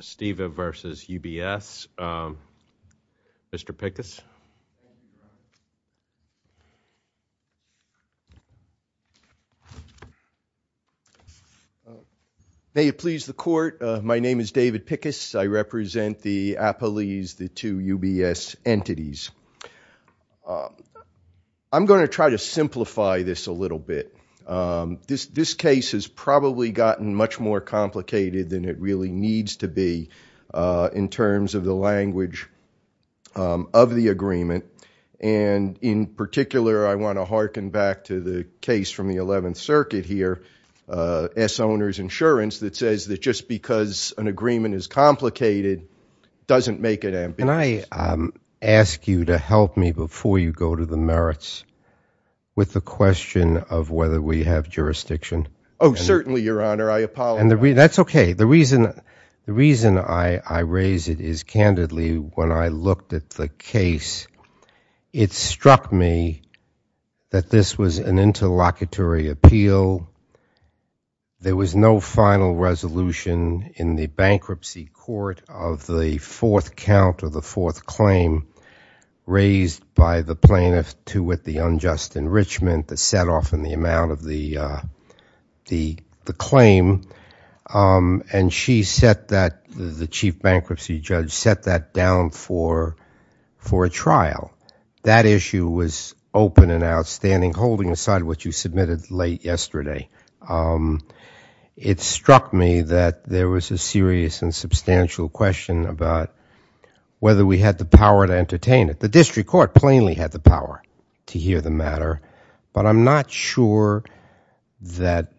Esteva v. UBS. Mr. Pickus? May it please the court, my name is David Pickus. I represent the Apoles, the two UBS entities. I'm going to try to simplify this a little bit. This case has probably gotten much more complicated than it really needs to be in terms of the language of the agreement. And in particular, I want to harken back to the case from the 11th Circuit here, S. Owner's Insurance, that says that just because an agreement is complicated doesn't make it ambiguous. Can I ask you to help me before you go to the merits with the question of whether we have jurisdiction? Oh, certainly, Your Honor. I apologize. That's okay. The reason I raise it is, candidly, when I looked at the case, it struck me that this was an interlocutory appeal. There was no final resolution in the bankruptcy court of the fourth count or the fourth claim raised by the plaintiff to what the unjust enrichment that set off in the amount of the claim. And she set that, the chief bankruptcy judge, set that down for a trial. That issue was open and outstanding, holding aside what you submitted late yesterday. It struck me that there was a serious and substantial question about whether we had the power to entertain it. The district court plainly had the power to hear the matter, but I'm not sure that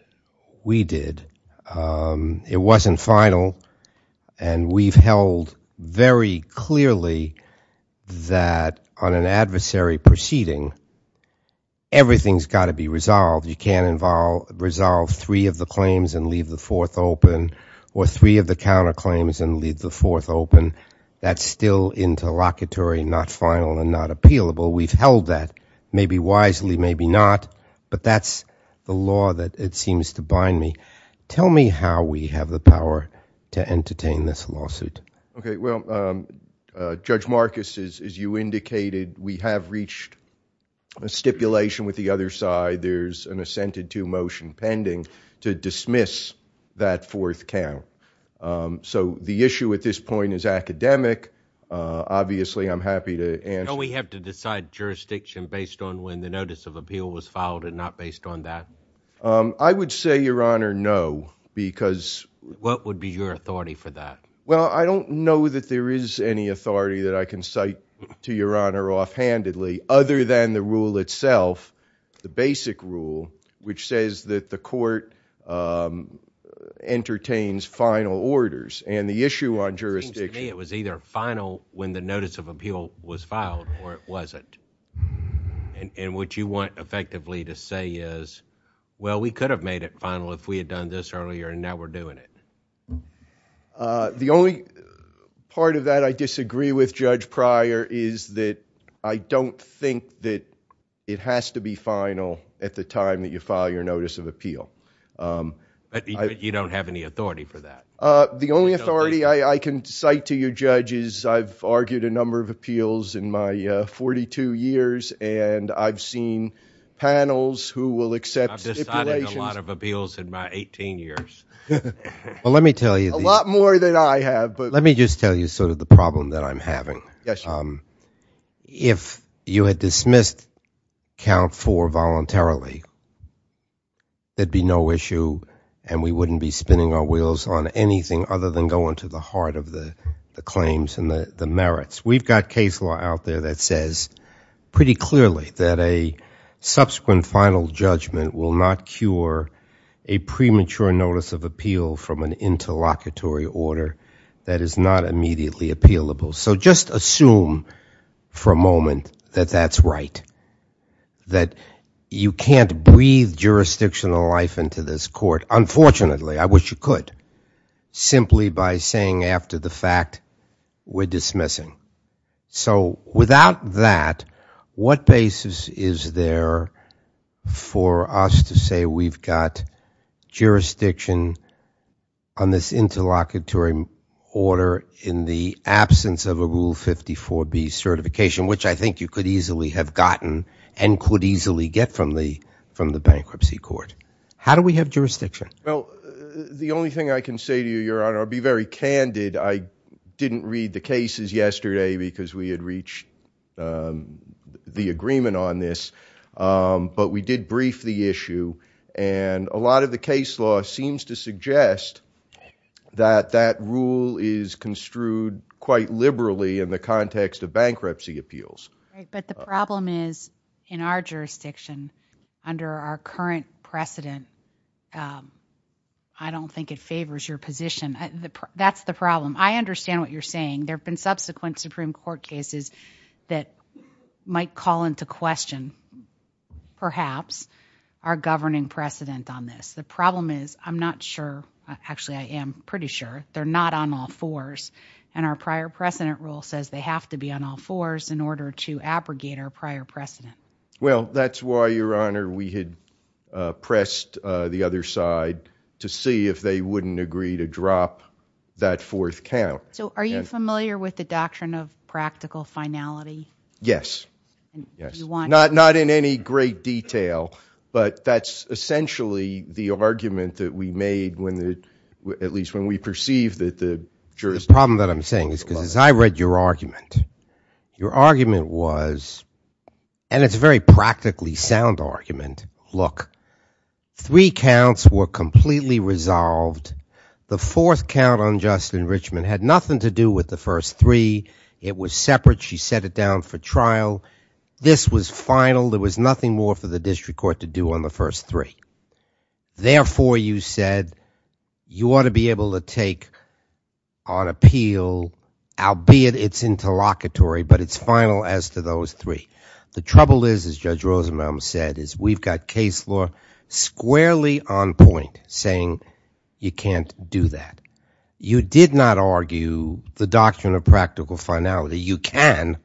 we did. It wasn't final, and we've held very clearly that on an adversary proceeding, everything's got to be resolved. You can't resolve three of the claims and leave the fourth open or three of the counterclaims and leave the fourth open. That's still interlocutory, not final, and not appealable. We've held that, maybe wisely, maybe not, but that's the law that it seems to bind me. Tell me how we have the power to entertain this lawsuit. Okay, well, Judge Marcus, as you indicated, we have reached a stipulation with the other side. There's an assented to motion pending to dismiss that fourth count. So the issue at this point is academic. Obviously, I'm happy to answer. We have to decide jurisdiction based on when the notice of appeal was filed and not based on that? I would say, Your Honor, no, because... What would be your authority for that? Well, I don't know that there is any authority that I can cite to Your Honor offhandedly other than the rule itself, the basic rule, which says that the court entertains final orders and the issue on jurisdiction... It was either final when the notice of appeal was filed or it wasn't. And what you want effectively to say is, well, we could have made it final if we had done this earlier and now we're doing it. The only part of that I disagree with Judge Pryor is that I don't think that it has to be final at the time that you file your notice of appeal. But you don't have any authority for that? The only authority I can cite to you, Judge, is I've argued a number of appeals in my 42 years and I've seen panels who will accept stipulations... I've decided a lot of appeals in my 18 years. Well, let me tell you... A lot more than I have. Let me just tell you sort of the problem that I'm having. Yes. If you had dismissed count four voluntarily, there'd be no issue and we wouldn't be spinning our wheels on anything other than going to the heart of the claims and the merits. We've got case law out there that says pretty clearly that a subsequent final judgment will not cure a premature notice of appeal from an interlocutory order that is not immediately appealable. So just assume for a moment that that's right. That you can't breathe jurisdictional life into this court. Unfortunately, I wish you could. Simply by saying after the fact, we're dismissing. So without that, what basis is there for us to say we've got jurisdiction on this interlocutory order in the absence of a Rule 54B certification, which I think you could easily have gotten and could easily get from the bankruptcy court. How do we have jurisdiction? Well, the only thing I can say to you, Your Honor, I'll be very candid. I didn't read the cases yesterday because we had reached the agreement on this, but we did brief the issue and a lot of the case law seems to suggest that that rule is construed quite liberally in the context of interlocutory. The problem is in our jurisdiction under our current precedent, I don't think it favors your position. That's the problem. I understand what you're saying. There have been subsequent Supreme Court cases that might call into question, perhaps, our governing precedent on this. The problem is I'm not sure. Actually, I am pretty sure. They're not on all fours and our prior precedent rule says they have to be on all fours in order to abrogate our prior precedent. Well, that's why, Your Honor, we had pressed the other side to see if they wouldn't agree to drop that fourth count. So are you familiar with the doctrine of practical finality? Yes. Yes. Not in any great detail, but that's essentially the argument that we made when, at least when we were discussing this, because as I read your argument, your argument was, and it's a very practically sound argument, look, three counts were completely resolved. The fourth count on Justin Richmond had nothing to do with the first three. It was separate. She set it down for trial. This was final. There was nothing more for the district court to do on the first three. Therefore, you said you ought to be able to take on appeal, albeit it's interlocutory, but it's final as to those three. The trouble is, as Judge Rosenbaum said, is we've got case law squarely on point saying you can't do that. You did not argue the doctrine of practical finality. You can,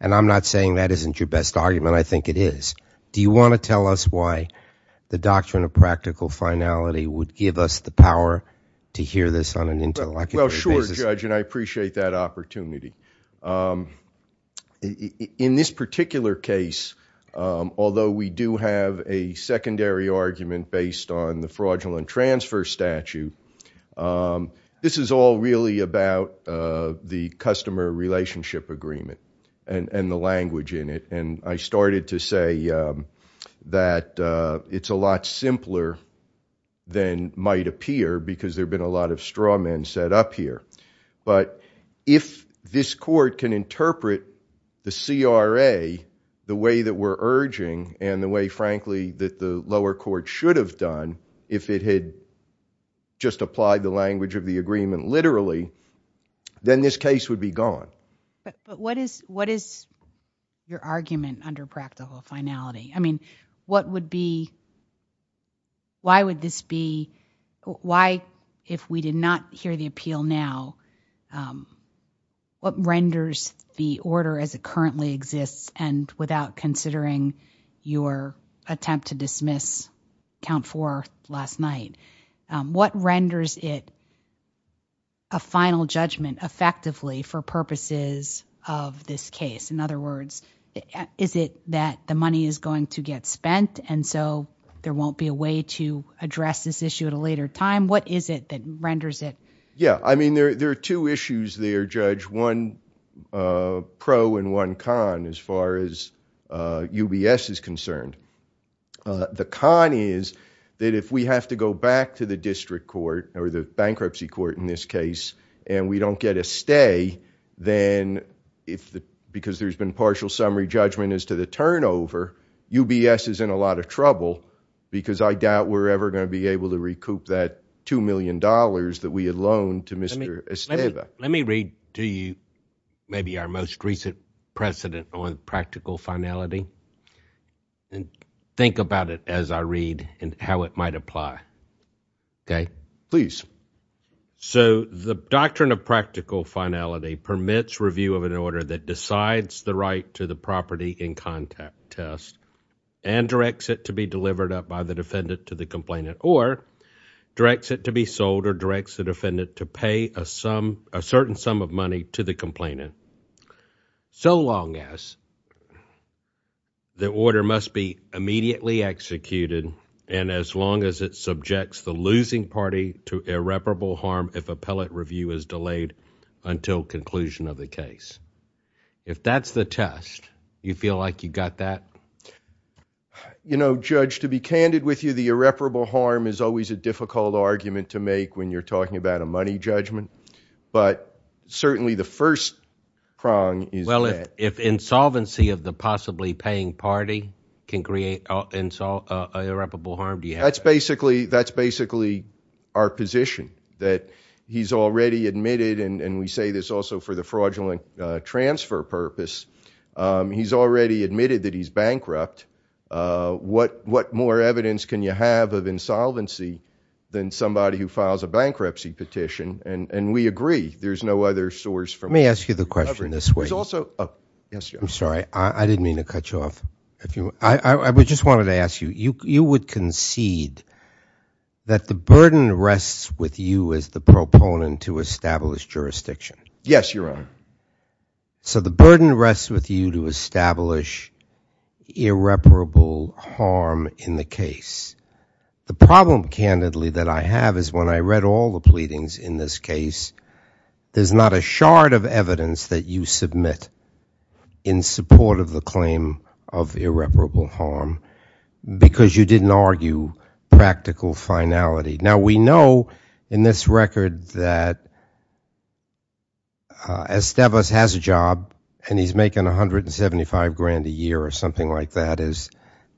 and I'm not saying that isn't your best argument. I think it is. Do you want to tell us why the doctrine of finality doesn't give us the power to hear this on an interlocutory basis? Well, sure, Judge, and I appreciate that opportunity. In this particular case, although we do have a secondary argument based on the fraudulent transfer statute, this is all really about the customer relationship agreement and the language in it. I started to say that it's a lot simpler than might appear because there have been a lot of straw men set up here. If this court can interpret the CRA the way that we're urging and the way, frankly, that the lower court should have done if it had just applied the language of the agreement literally, then this case would be gone. But what is your argument under practical finality? I mean, what would be, why would this be, why, if we did not hear the appeal now, what renders the order as it currently exists and without considering your attempt to dismiss count four last night? What renders it a final judgment effectively for purposes of this case? In other words, is it that the money is going to get spent and so there won't be a way to address this issue at a later time? What is it that renders it? Yeah, I mean, there are two issues there, Judge. One pro and one con as far as UBS is concerned. The con is that if we have to go back to the district court or the bankruptcy court in this case and we don't get a stay, then if the, because there's been partial summary judgment as to the turnover, UBS is in a lot of trouble because I doubt we're ever going to be able to recoup that $2 million that we had loaned to Mr. Esteva. Let me read to you maybe our most recent precedent on practical finality and think about it as I read and how it might apply. Okay, please. So the doctrine of practical finality permits review of an order that decides the right to the property in contact test and directs it to be delivered up by the defendant to the complainant or directs it to be sold or directs the defendant to pay a sum, a to the complainant so long as the order must be immediately executed and as long as it subjects the losing party to irreparable harm if appellate review is delayed until conclusion of the case. If that's the test, you feel like you got that? You know, Judge, to be candid with you, the irreparable harm is always a difficult argument to make when you're talking about a money judgment, but certainly the first prong is... Well, if insolvency of the possibly paying party can create irreparable harm, do you have... That's basically our position that he's already admitted and we say this also for the fraudulent transfer purpose, he's already admitted that he's bankrupt. What more evidence can you have of insolvency than somebody who files a bankruptcy petition and we agree there's no other source from... Let me ask you the question this way. There's also... Oh, yes. I'm sorry, I didn't mean to cut you off. I just wanted to ask you, you would concede that the burden rests with you as the proponent to establish jurisdiction? Yes, Your Honor. So the burden rests with you to establish irreparable harm in the case. The problem, candidly, that I have is when I read all the pleadings in this case, there's not a shard of evidence that you submit in support of the claim of irreparable harm because you didn't argue practical finality. Now, we know in this record that Esteves has a job and he's making 175 grand a year or something like that as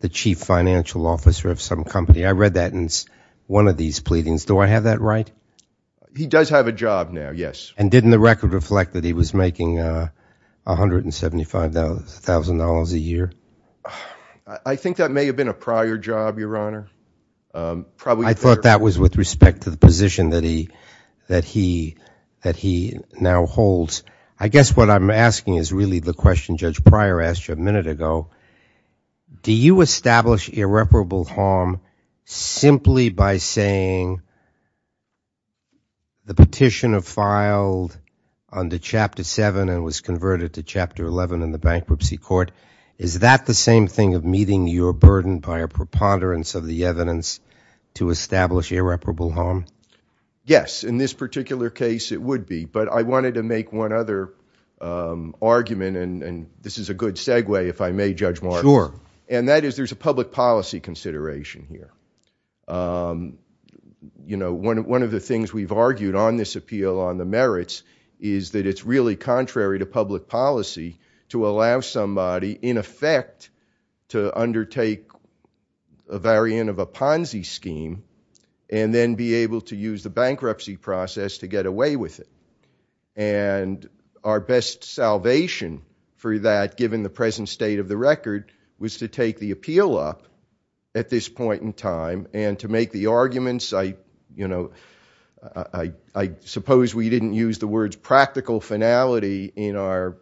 the chief financial officer of some company. I read that in one of these pleadings. Do I have that right? He does have a job now, yes. And didn't the record reflect that he was making $175,000 a year? I think that may have been a prior job, Your Honor. I thought that was with respect to the position that he now holds. I guess what I'm asking is the question Judge Pryor asked you a minute ago. Do you establish irreparable harm simply by saying the petitioner filed under Chapter 7 and was converted to Chapter 11 in the bankruptcy court? Is that the same thing of meeting your burden by a preponderance of the evidence to establish irreparable harm? Yes. In this particular case, it would be. I wanted to make one other argument. This is a good segue, if I may, Judge Martin. There's a public policy consideration here. One of the things we've argued on this appeal on the merits is that it's really contrary to public policy to allow somebody, in effect, to undertake a variant of a Ponzi scheme and then be able to use the bankruptcy process to get away with it. And our best salvation for that, given the present state of the record, was to take the appeal up at this point in time and to make the arguments. I suppose we didn't use the words practical finality in our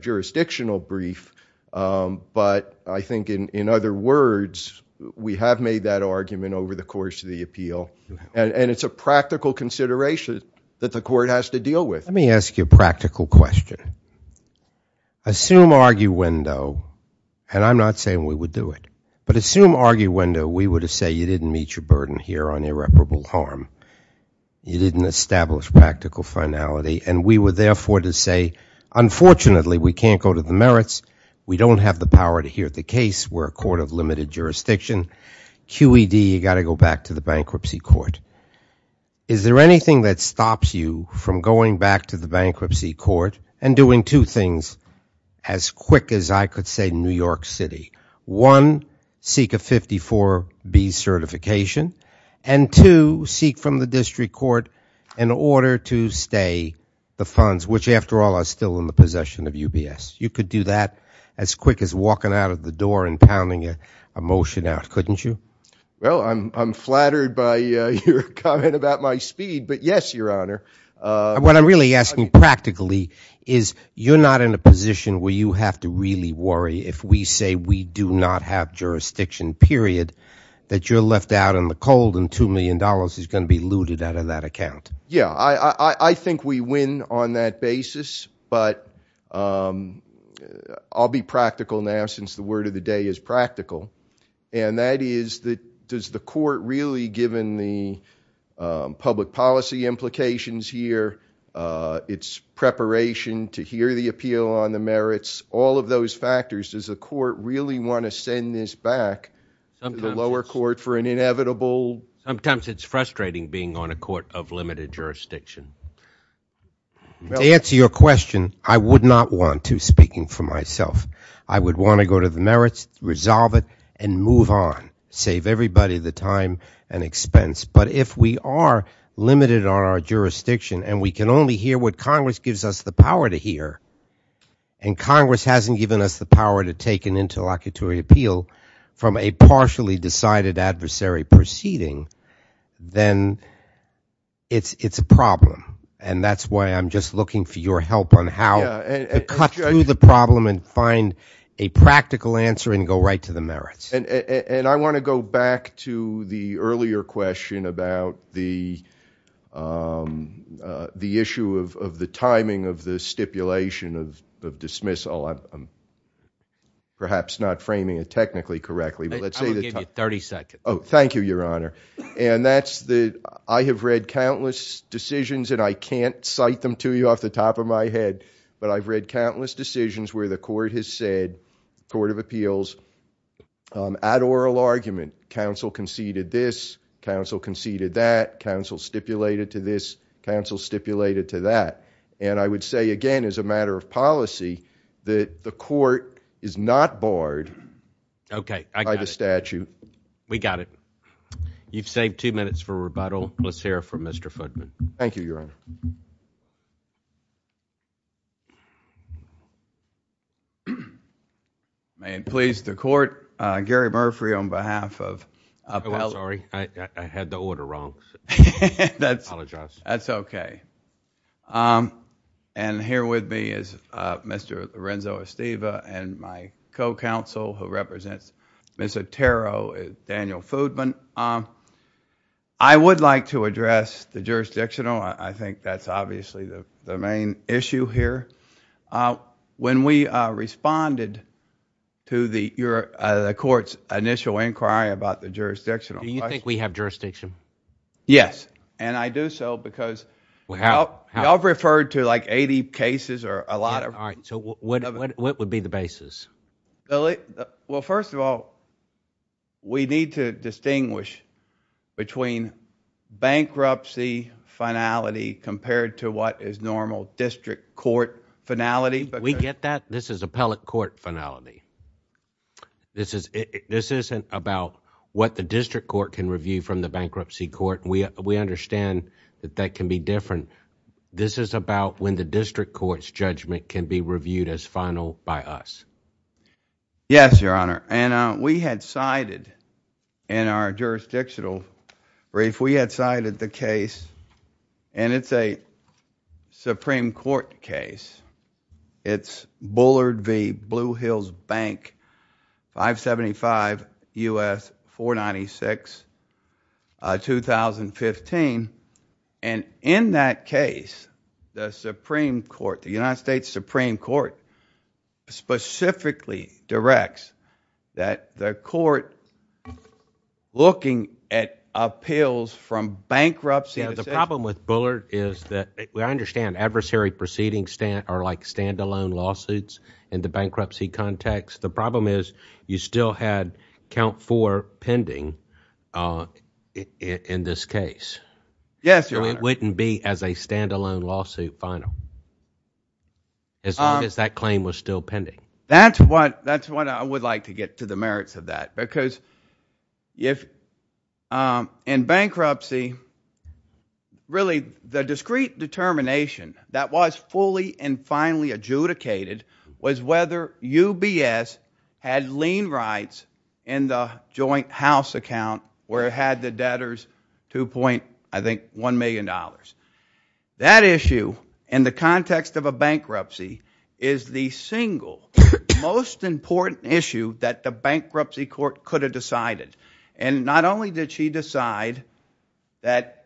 jurisdictional brief, but I think in other words, we have made that argument over the course of the appeal, and it's a practical consideration that the court has to deal with. Let me ask you a practical question. Assume arguendo, and I'm not saying we would do it, but assume arguendo, we were to say you didn't meet your burden here on irreparable harm. You didn't establish practical finality, and we were therefore to say, unfortunately, we can't go to the merits. We don't have the power to hear the case. We're a court of limited to the bankruptcy court. Is there anything that stops you from going back to the bankruptcy court and doing two things as quick as I could say New York City? One, seek a 54B certification, and two, seek from the district court an order to stay the funds, which, after all, are still in the possession of UBS. You could do that as quick as walking out of the door and by your comment about my speed, but yes, your honor. What I'm really asking practically is you're not in a position where you have to really worry if we say we do not have jurisdiction, period, that you're left out in the cold and $2 million is going to be looted out of that account. Yeah, I think we win on that basis, but I'll be practical now since the word of the day is given the public policy implications here, its preparation to hear the appeal on the merits, all of those factors, does the court really want to send this back to the lower court for an inevitable? Sometimes it's frustrating being on a court of limited jurisdiction. To answer your question, I would not want to speaking for myself. I would want to go to the merits, resolve it, and move on, save everybody the time and expense, but if we are limited on our jurisdiction and we can only hear what Congress gives us the power to hear and Congress hasn't given us the power to take an interlocutory appeal from a partially decided adversary proceeding, then it's a problem and that's why I'm just looking for your help on how to cut through the problem and find a practical answer and go right to the merits. And I want to go back to the earlier question about the issue of the timing of the stipulation of dismissal. I'm perhaps not framing it technically correctly, but let's say that... I'm going to give you 30 seconds. Oh, thank you, Your Honor. I have read countless decisions and I can't cite them to you off the top of my head, but I've read countless decisions where the court has said, the Court of Appeals, at oral argument, counsel conceded this, counsel conceded that, counsel stipulated to this, counsel stipulated to that, and I would say again as a matter of policy that the court is not barred by the statute. We got it. You've saved two minutes for rebuttal. Let's hear from Mr. Daniel Foodman. Thank you, Your Honor. May it please the Court, Gary Murphy on behalf of... I'm sorry. I had the order wrong. I apologize. That's okay. And here with me is Mr. Lorenzo Esteva and my co-counsel who represents Ms. Otero is Daniel Foodman. I would like to address the jurisdictional. I think that's obviously the main issue here. When we responded to the court's initial inquiry about the jurisdictional... Do you think we have jurisdiction? Yes, and I do so because y'all referred to like well, we need to distinguish between bankruptcy finality compared to what is normal district court finality. We get that. This is appellate court finality. This isn't about what the district court can review from the bankruptcy court. We understand that that can be different. This is about when the district court's judgment can be reviewed as final by us. Yes, Your Honor, and we had cited in our jurisdictional brief, we had cited the case and it's a Supreme Court case. It's Bullard v. Blue Hills Bank, 575 U.S. 496, 2015. And in that case, the Supreme Court, the United States Supreme Court, specifically directs that the court looking at appeals from bankruptcy... The problem with Bullard is that I understand adversary proceedings are like standalone lawsuits in the bankruptcy context. The problem is you still had count four pending in this case. Yes, Your Honor. So it wouldn't be as a standalone lawsuit final as long as that claim was still pending. That's what I would like to get to the merits of that because if in bankruptcy, really the discrete determination that was fully and finally adjudicated was whether UBS had lien rights in the joint house account where it had the debtors 2.1 million dollars. That issue in the context of a bankruptcy is the single most important issue that the bankruptcy court could have decided. And not only did she decide that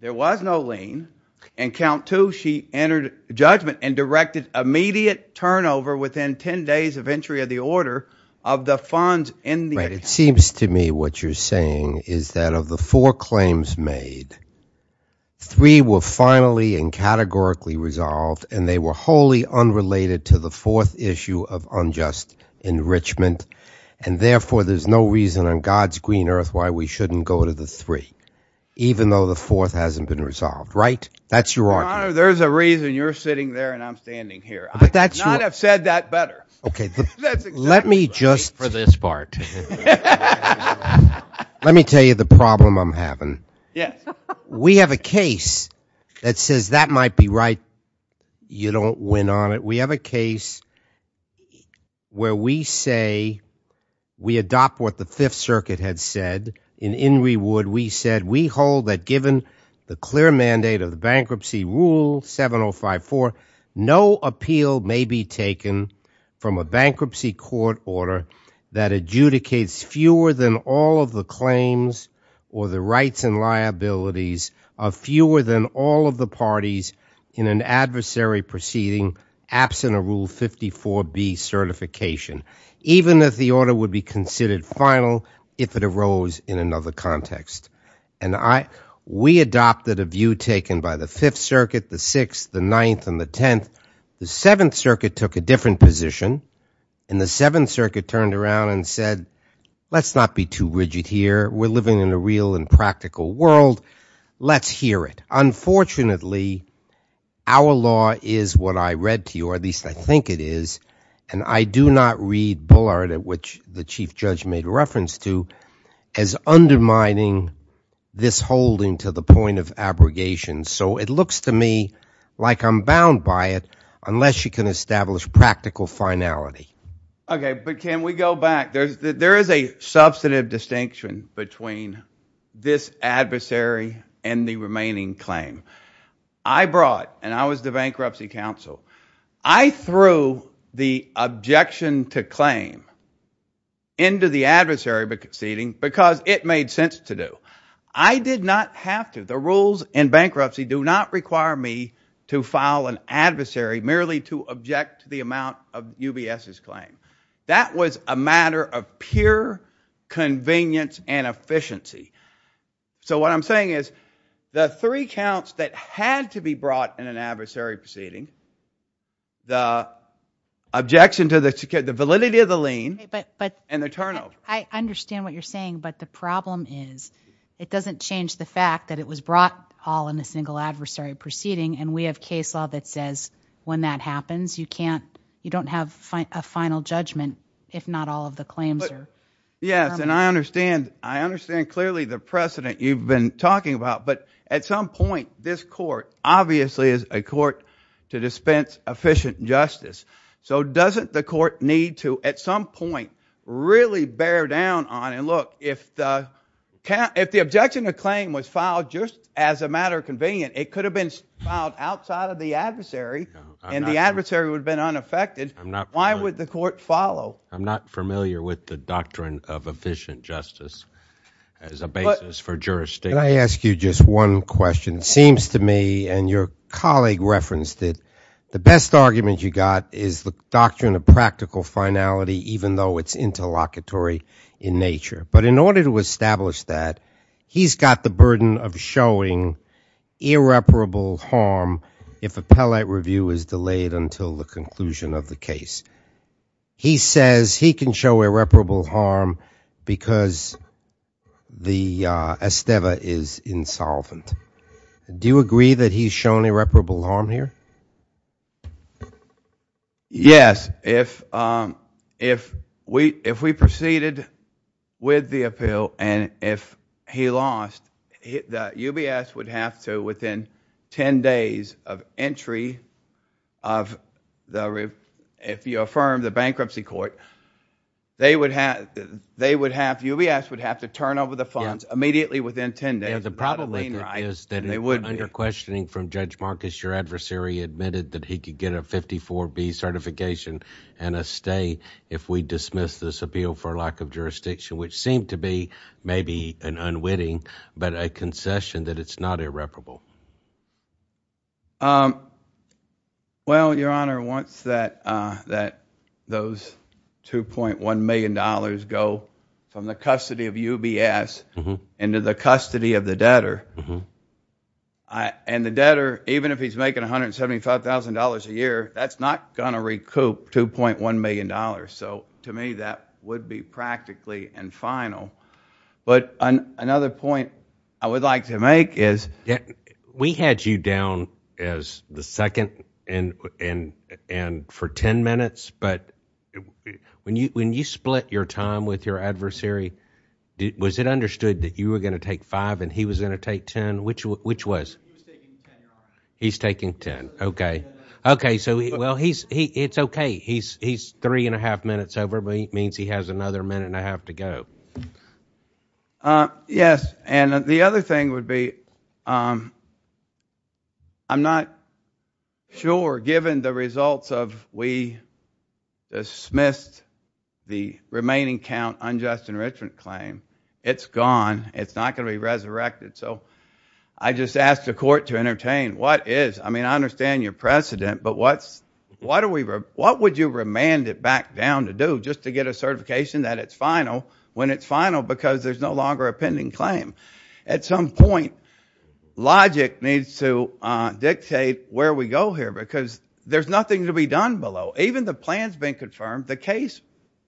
there was no lien and count two, she entered judgment and directed immediate turnover within 10 days of entry of the order of the funds in the account. It seems to me what you're saying is that of the four claims made, three were finally and categorically resolved and they were wholly unrelated to the fourth issue of unjust enrichment. And therefore, there's no reason on God's green earth why we shouldn't go to the three even though the fourth hasn't been resolved, right? That's your argument. There's a reason you're sitting there and I'm standing here. I could not have said that better. Okay, let me just... Wait for this part. Let me tell you the problem I'm having. Yes. We have a case that says that might be right. You don't win on it. We have a case where we say, we adopt what the fifth circuit had said. In In reward, we said we hold that given the clear mandate of the bankruptcy rule 7054, no appeal may be taken from a bankruptcy court order that adjudicates fewer than all of the claims or the rights and liabilities of fewer than all of the parties in an adversary proceeding absent a rule 54B certification, even if the order would be considered final if it arose in another context. And I, we adopted a view taken by the fifth circuit, the sixth, the ninth, and the tenth. The seventh circuit took a different position and the seventh circuit turned around and said, let's not be too rigid here. We're living in a and practical world. Let's hear it. Unfortunately, our law is what I read to you, or at least I think it is. And I do not read Bullard at which the chief judge made reference to as undermining this holding to the point of abrogation. So it looks to me like I'm bound by it unless you can establish practical finality. Okay, but can we go back? There's, there is a substantive distinction between this adversary and the remaining claim. I brought, and I was the bankruptcy counsel, I threw the objection to claim into the adversary proceeding because it made sense to do. I did not have to. The rules in bankruptcy do not require me to file an adversary merely to object to the amount of UBS's claim. That was a matter of pure convenience and efficiency. So what I'm saying is the three counts that had to be brought in an adversary proceeding, the objection to the validity of the lien, and the turnover. I understand what you're saying, but the problem is it doesn't change the fact that it was brought all in a single adversary proceeding and we have case law that says when that happens you can't, you don't have a final judgment if not all of the claims are Yes, and I understand, I understand clearly the precedent you've been talking about, but at some point this court obviously is a court to dispense efficient justice. So doesn't the court need to at some point really bear down on, and look, if the objection to claim was filed just as a matter of convenience, it could have been filed outside of the adversary and the adversary would have been unaffected, why would the court follow? I'm not familiar with the doctrine of efficient justice as a basis for jurisdiction. Can I ask you just one question? It seems to me, and your colleague referenced it, the best argument you got is the doctrine of practical finality even though it's interlocutory in nature. But in order to establish that, he's got the burden of showing irreparable harm if appellate review is delayed until the conclusion of the case. He says he can show irreparable harm because the esteva is insolvent. Do you agree that he's shown irreparable harm here? Yes. If we proceeded with the appeal and if he lost, UBS would have to within ten days of entry, if you affirm the bankruptcy court, UBS would have to turn over the funds immediately within ten days. The problem is that under questioning from Judge Marcus, your adversary admitted that he could get a 54B certification and a stay if we dismiss this appeal for lack of jurisdiction which seemed to be maybe an unwitting but a concession that it's not irreparable. Well, your honor, once those 2.1 million dollars go from the custody of UBS into the custody of the debtor, and the debtor, even if he's making $175,000 a year, that's not going to recoup 2.1 million dollars. So to me, that would be practically infinal. But another point I would like to make is we had you down as the second and for ten minutes, but when you split your time with your adversary, was it understood that you were going to take five and he was going to take ten? Which was? He's taking ten. Okay. Okay. So well, it's okay. He's three and a half minutes over, but it means he has another minute and a half to go. Yes. And the other thing would be I'm not sure given the results of we dismissed the remaining count unjust enrichment claim, it's gone. It's not going to be resurrected. So I just asked the court to entertain what is. I mean, I understand your precedent, but what would you remand it back down to do just to get a certification that it's final when it's final because there's no longer a pending claim? At some point, logic needs to dictate where we go here because there's nothing to be done below. Even the plan's been confirmed, the case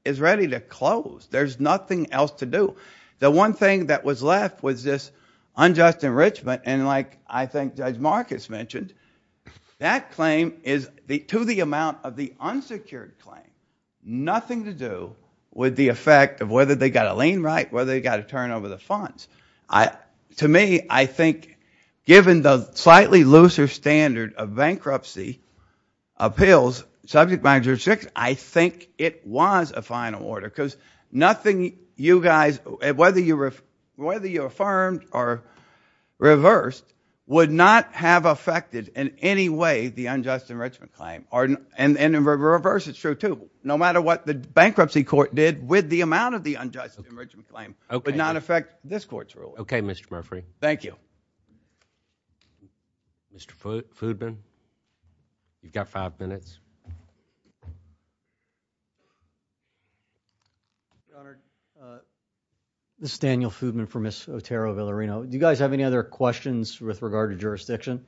is ready to close. There's nothing else to do. The one thing that was left was this unjust enrichment, and like I think Judge Marcus mentioned, that claim is to the amount of the unsecured claim. Nothing to do with the effect of whether they got a lien right, whether they got to turn over the funds. To me, I think given the slightly looser standard of bankruptcy appeals, subject matter of jurisdiction, I think it was a whether you affirmed or reversed would not have affected in any way the unjust enrichment claim or in reverse. It's true too. No matter what the bankruptcy court did with the amount of the unjust enrichment claim, it would not affect this court's rule. Okay, Mr. Murphree. Thank you. Mr. Foodman, you've got five minutes. Your Honor, this is Daniel Foodman from Ms. Otero Villarino. Do you guys have any other questions with regard to jurisdiction?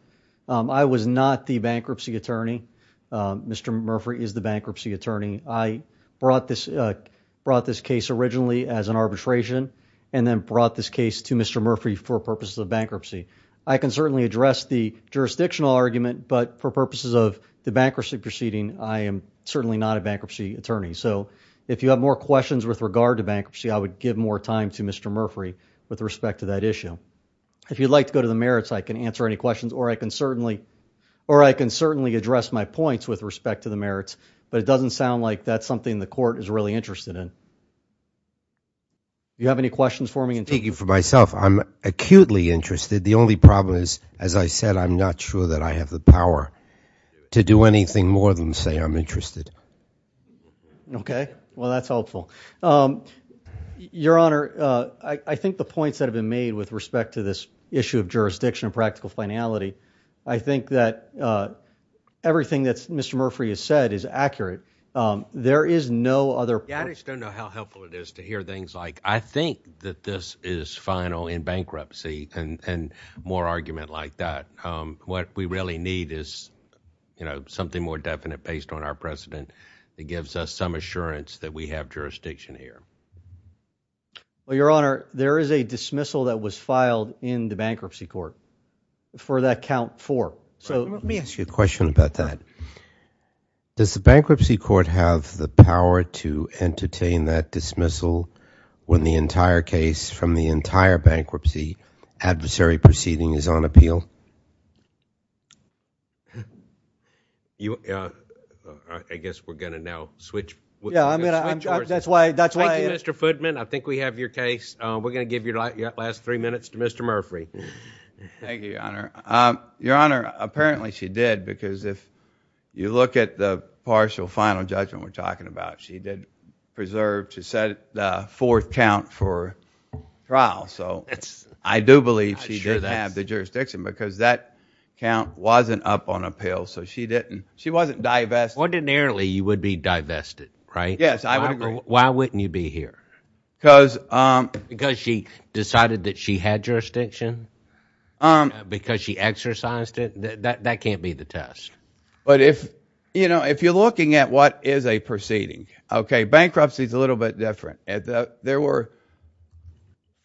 I was not the bankruptcy attorney. Mr. Murphree is the bankruptcy attorney. I brought this case originally as an arbitration and then brought this case to Mr. Murphree for purposes of bankruptcy. I can certainly address the jurisdictional argument, but for purposes of the bankruptcy proceeding, I am certainly not a bankruptcy attorney. So if you have more questions with regard to bankruptcy, I would give more time to Mr. Murphree with respect to that issue. If you'd like to go to the merits, I can answer any questions or I can certainly address my points with respect to the merits, but it doesn't sound like that's something the court is really interested in. Do you have any questions for me? Thank you. For myself, I'm acutely interested. The only problem is, as I said, I'm not sure that I have the power to do anything more than say I'm interested. Okay. Well, that's helpful. Your Honor, I think the points that have been made with respect to this issue of jurisdiction and practical finality, I think that everything that Mr. Murphree has said is accurate. There is no other... I just don't know how helpful it is to hear things like, I think that this is final in bankruptcy and more argument like that. What we really need is, you know, something more definite based on our precedent that gives us some assurance that we have jurisdiction here. Well, Your Honor, there is a dismissal that was filed in the bankruptcy court for that count four. So let me ask you a question about that. Does the bankruptcy court have the dismissal when the entire case from the entire bankruptcy adversary proceeding is on appeal? I guess we're going to now switch. Yeah, that's why... Thank you, Mr. Foodman. I think we have your case. We're going to give your last three minutes to Mr. Murphree. Thank you, Your Honor. Your Honor, apparently she did because if you look at the partial final judgment we're talking about, she did preserve to set the fourth count for trial. So I do believe she didn't have the jurisdiction because that count wasn't up on appeal. So she wasn't divested. Ordinarily, you would be divested, right? Yes, I would agree. Why wouldn't you be here? Because she decided that she had jurisdiction because she exercised it. That can't be the test. But if, you know, what is a proceeding? Okay, bankruptcy is a little bit different. There were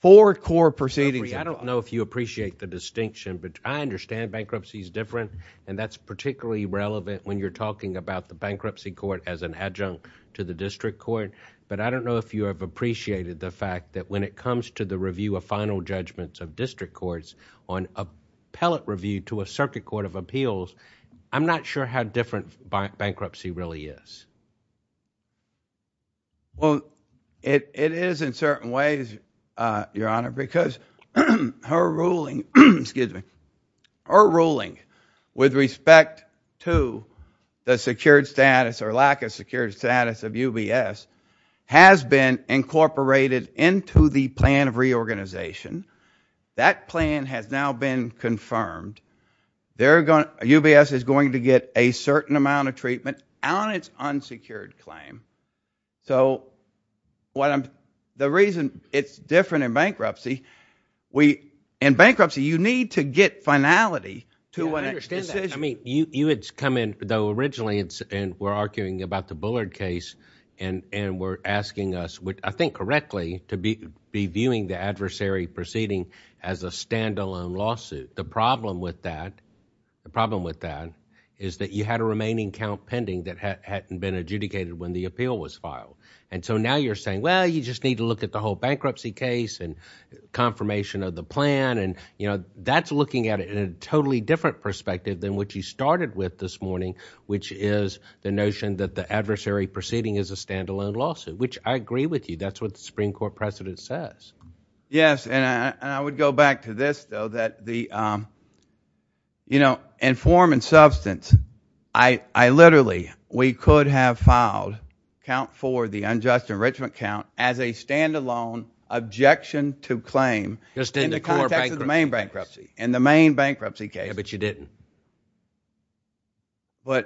four core proceedings. I don't know if you appreciate the distinction, but I understand bankruptcy is different and that's particularly relevant when you're talking about the bankruptcy court as an adjunct to the district court. But I don't know if you have appreciated the fact that when it comes to the review of final judgments of district courts on a pellet review to a circuit of appeals, I'm not sure how different bankruptcy really is. Well, it is in certain ways, Your Honor, because her ruling, excuse me, her ruling with respect to the secured status or lack of secured status of UBS has been incorporated into the plan of reorganization. That plan has now been confirmed. UBS is going to get a certain amount of treatment on its unsecured claim. So the reason it's different in bankruptcy, in bankruptcy, you need to get finality. I mean, you had come in, though, originally, and we're arguing about the Bullard case and we're asking us, I think correctly, to be viewing the adversary proceeding as a standalone lawsuit. The problem with that is that you had a remaining count pending that hadn't been adjudicated when the appeal was filed. So now you're saying, well, you just need to look at the whole bankruptcy case and confirmation of the plan. That's looking at it in a totally different perspective than what you started with this morning, which is the notion that the is a standalone lawsuit, which I agree with you. That's what the Supreme Court precedent says. Yes, and I would go back to this, though, that the, you know, in form and substance, I literally, we could have filed count for the unjust enrichment count as a standalone objection to claim in the context of the main bankruptcy, in the main bankruptcy case. Yeah, but you didn't. Yeah,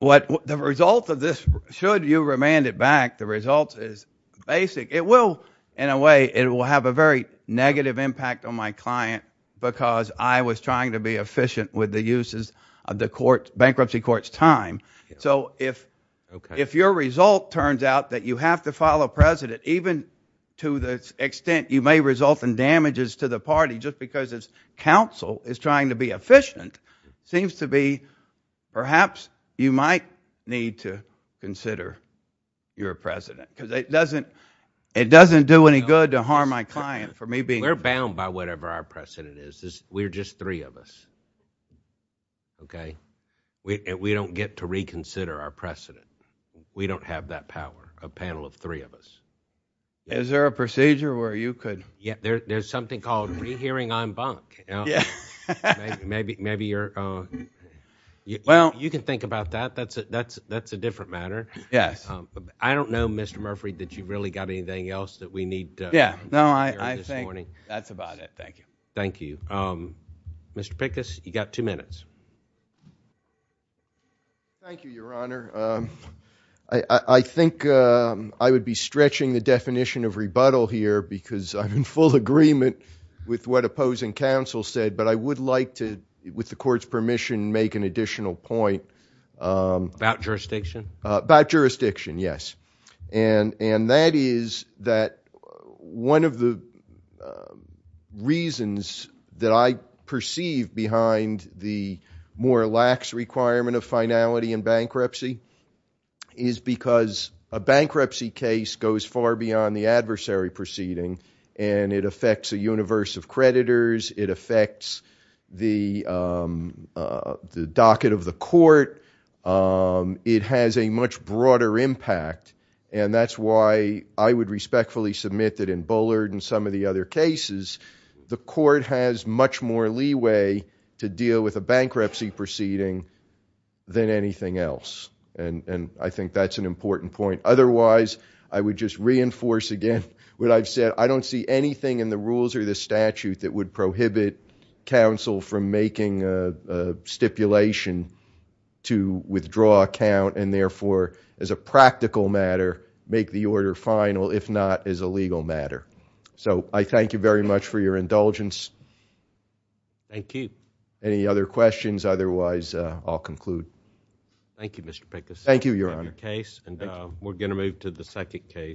but the result of this, should you remand it back, the result is basic. It will, in a way, it will have a very negative impact on my client because I was trying to be efficient with the uses of the bankruptcy court's time. So if your result turns out that you have to file a precedent, even to the extent you may result in damages to the party, just because it's trying to be efficient, seems to be perhaps you might need to consider your precedent, because it doesn't do any good to harm my client for me being. We're bound by whatever our precedent is. We're just three of us, okay? We don't get to reconsider our precedent. We don't have that power, a panel of three of us. Is there a procedure where you could? Yeah, there's something called rehearing en banc. Maybe you're, well, you can think about that. That's a different matter. Yes. I don't know, Mr. Murphy, that you've really got anything else that we need. Yeah, no, I think that's about it. Thank you. Thank you. Mr. Pickus, you got two minutes. Thank you, Your Honor. I think I would be stretching the definition of rebuttal here because I'm in full agreement with what opposing counsel said, but I would like to, with the court's permission, make an additional point. About jurisdiction? About jurisdiction, yes. And that is that one of the reasons that I perceive behind the more lax requirement of finality in bankruptcy is because a bankruptcy case goes far beyond the adversary proceeding, and it affects a universe of creditors. It affects the docket of the court. It has a much broader impact, and that's why I would respectfully submit that in Bullard and some of the other cases, the court has much more leeway to deal with a bankruptcy proceeding than anything else. And I think that's an important point. Otherwise, I would just reinforce again what I've said. I don't see anything in the rules or the statute that would prohibit counsel from making a stipulation to withdraw a count and therefore, as a practical matter, make the order final, if not as a legal matter. So I thank you very much for your indulgence. Thank you. Any other questions? Otherwise, I'll conclude. Thank you, Mr. Pickus. Thank you, Your Honor. Case, and we're going to move to the second case.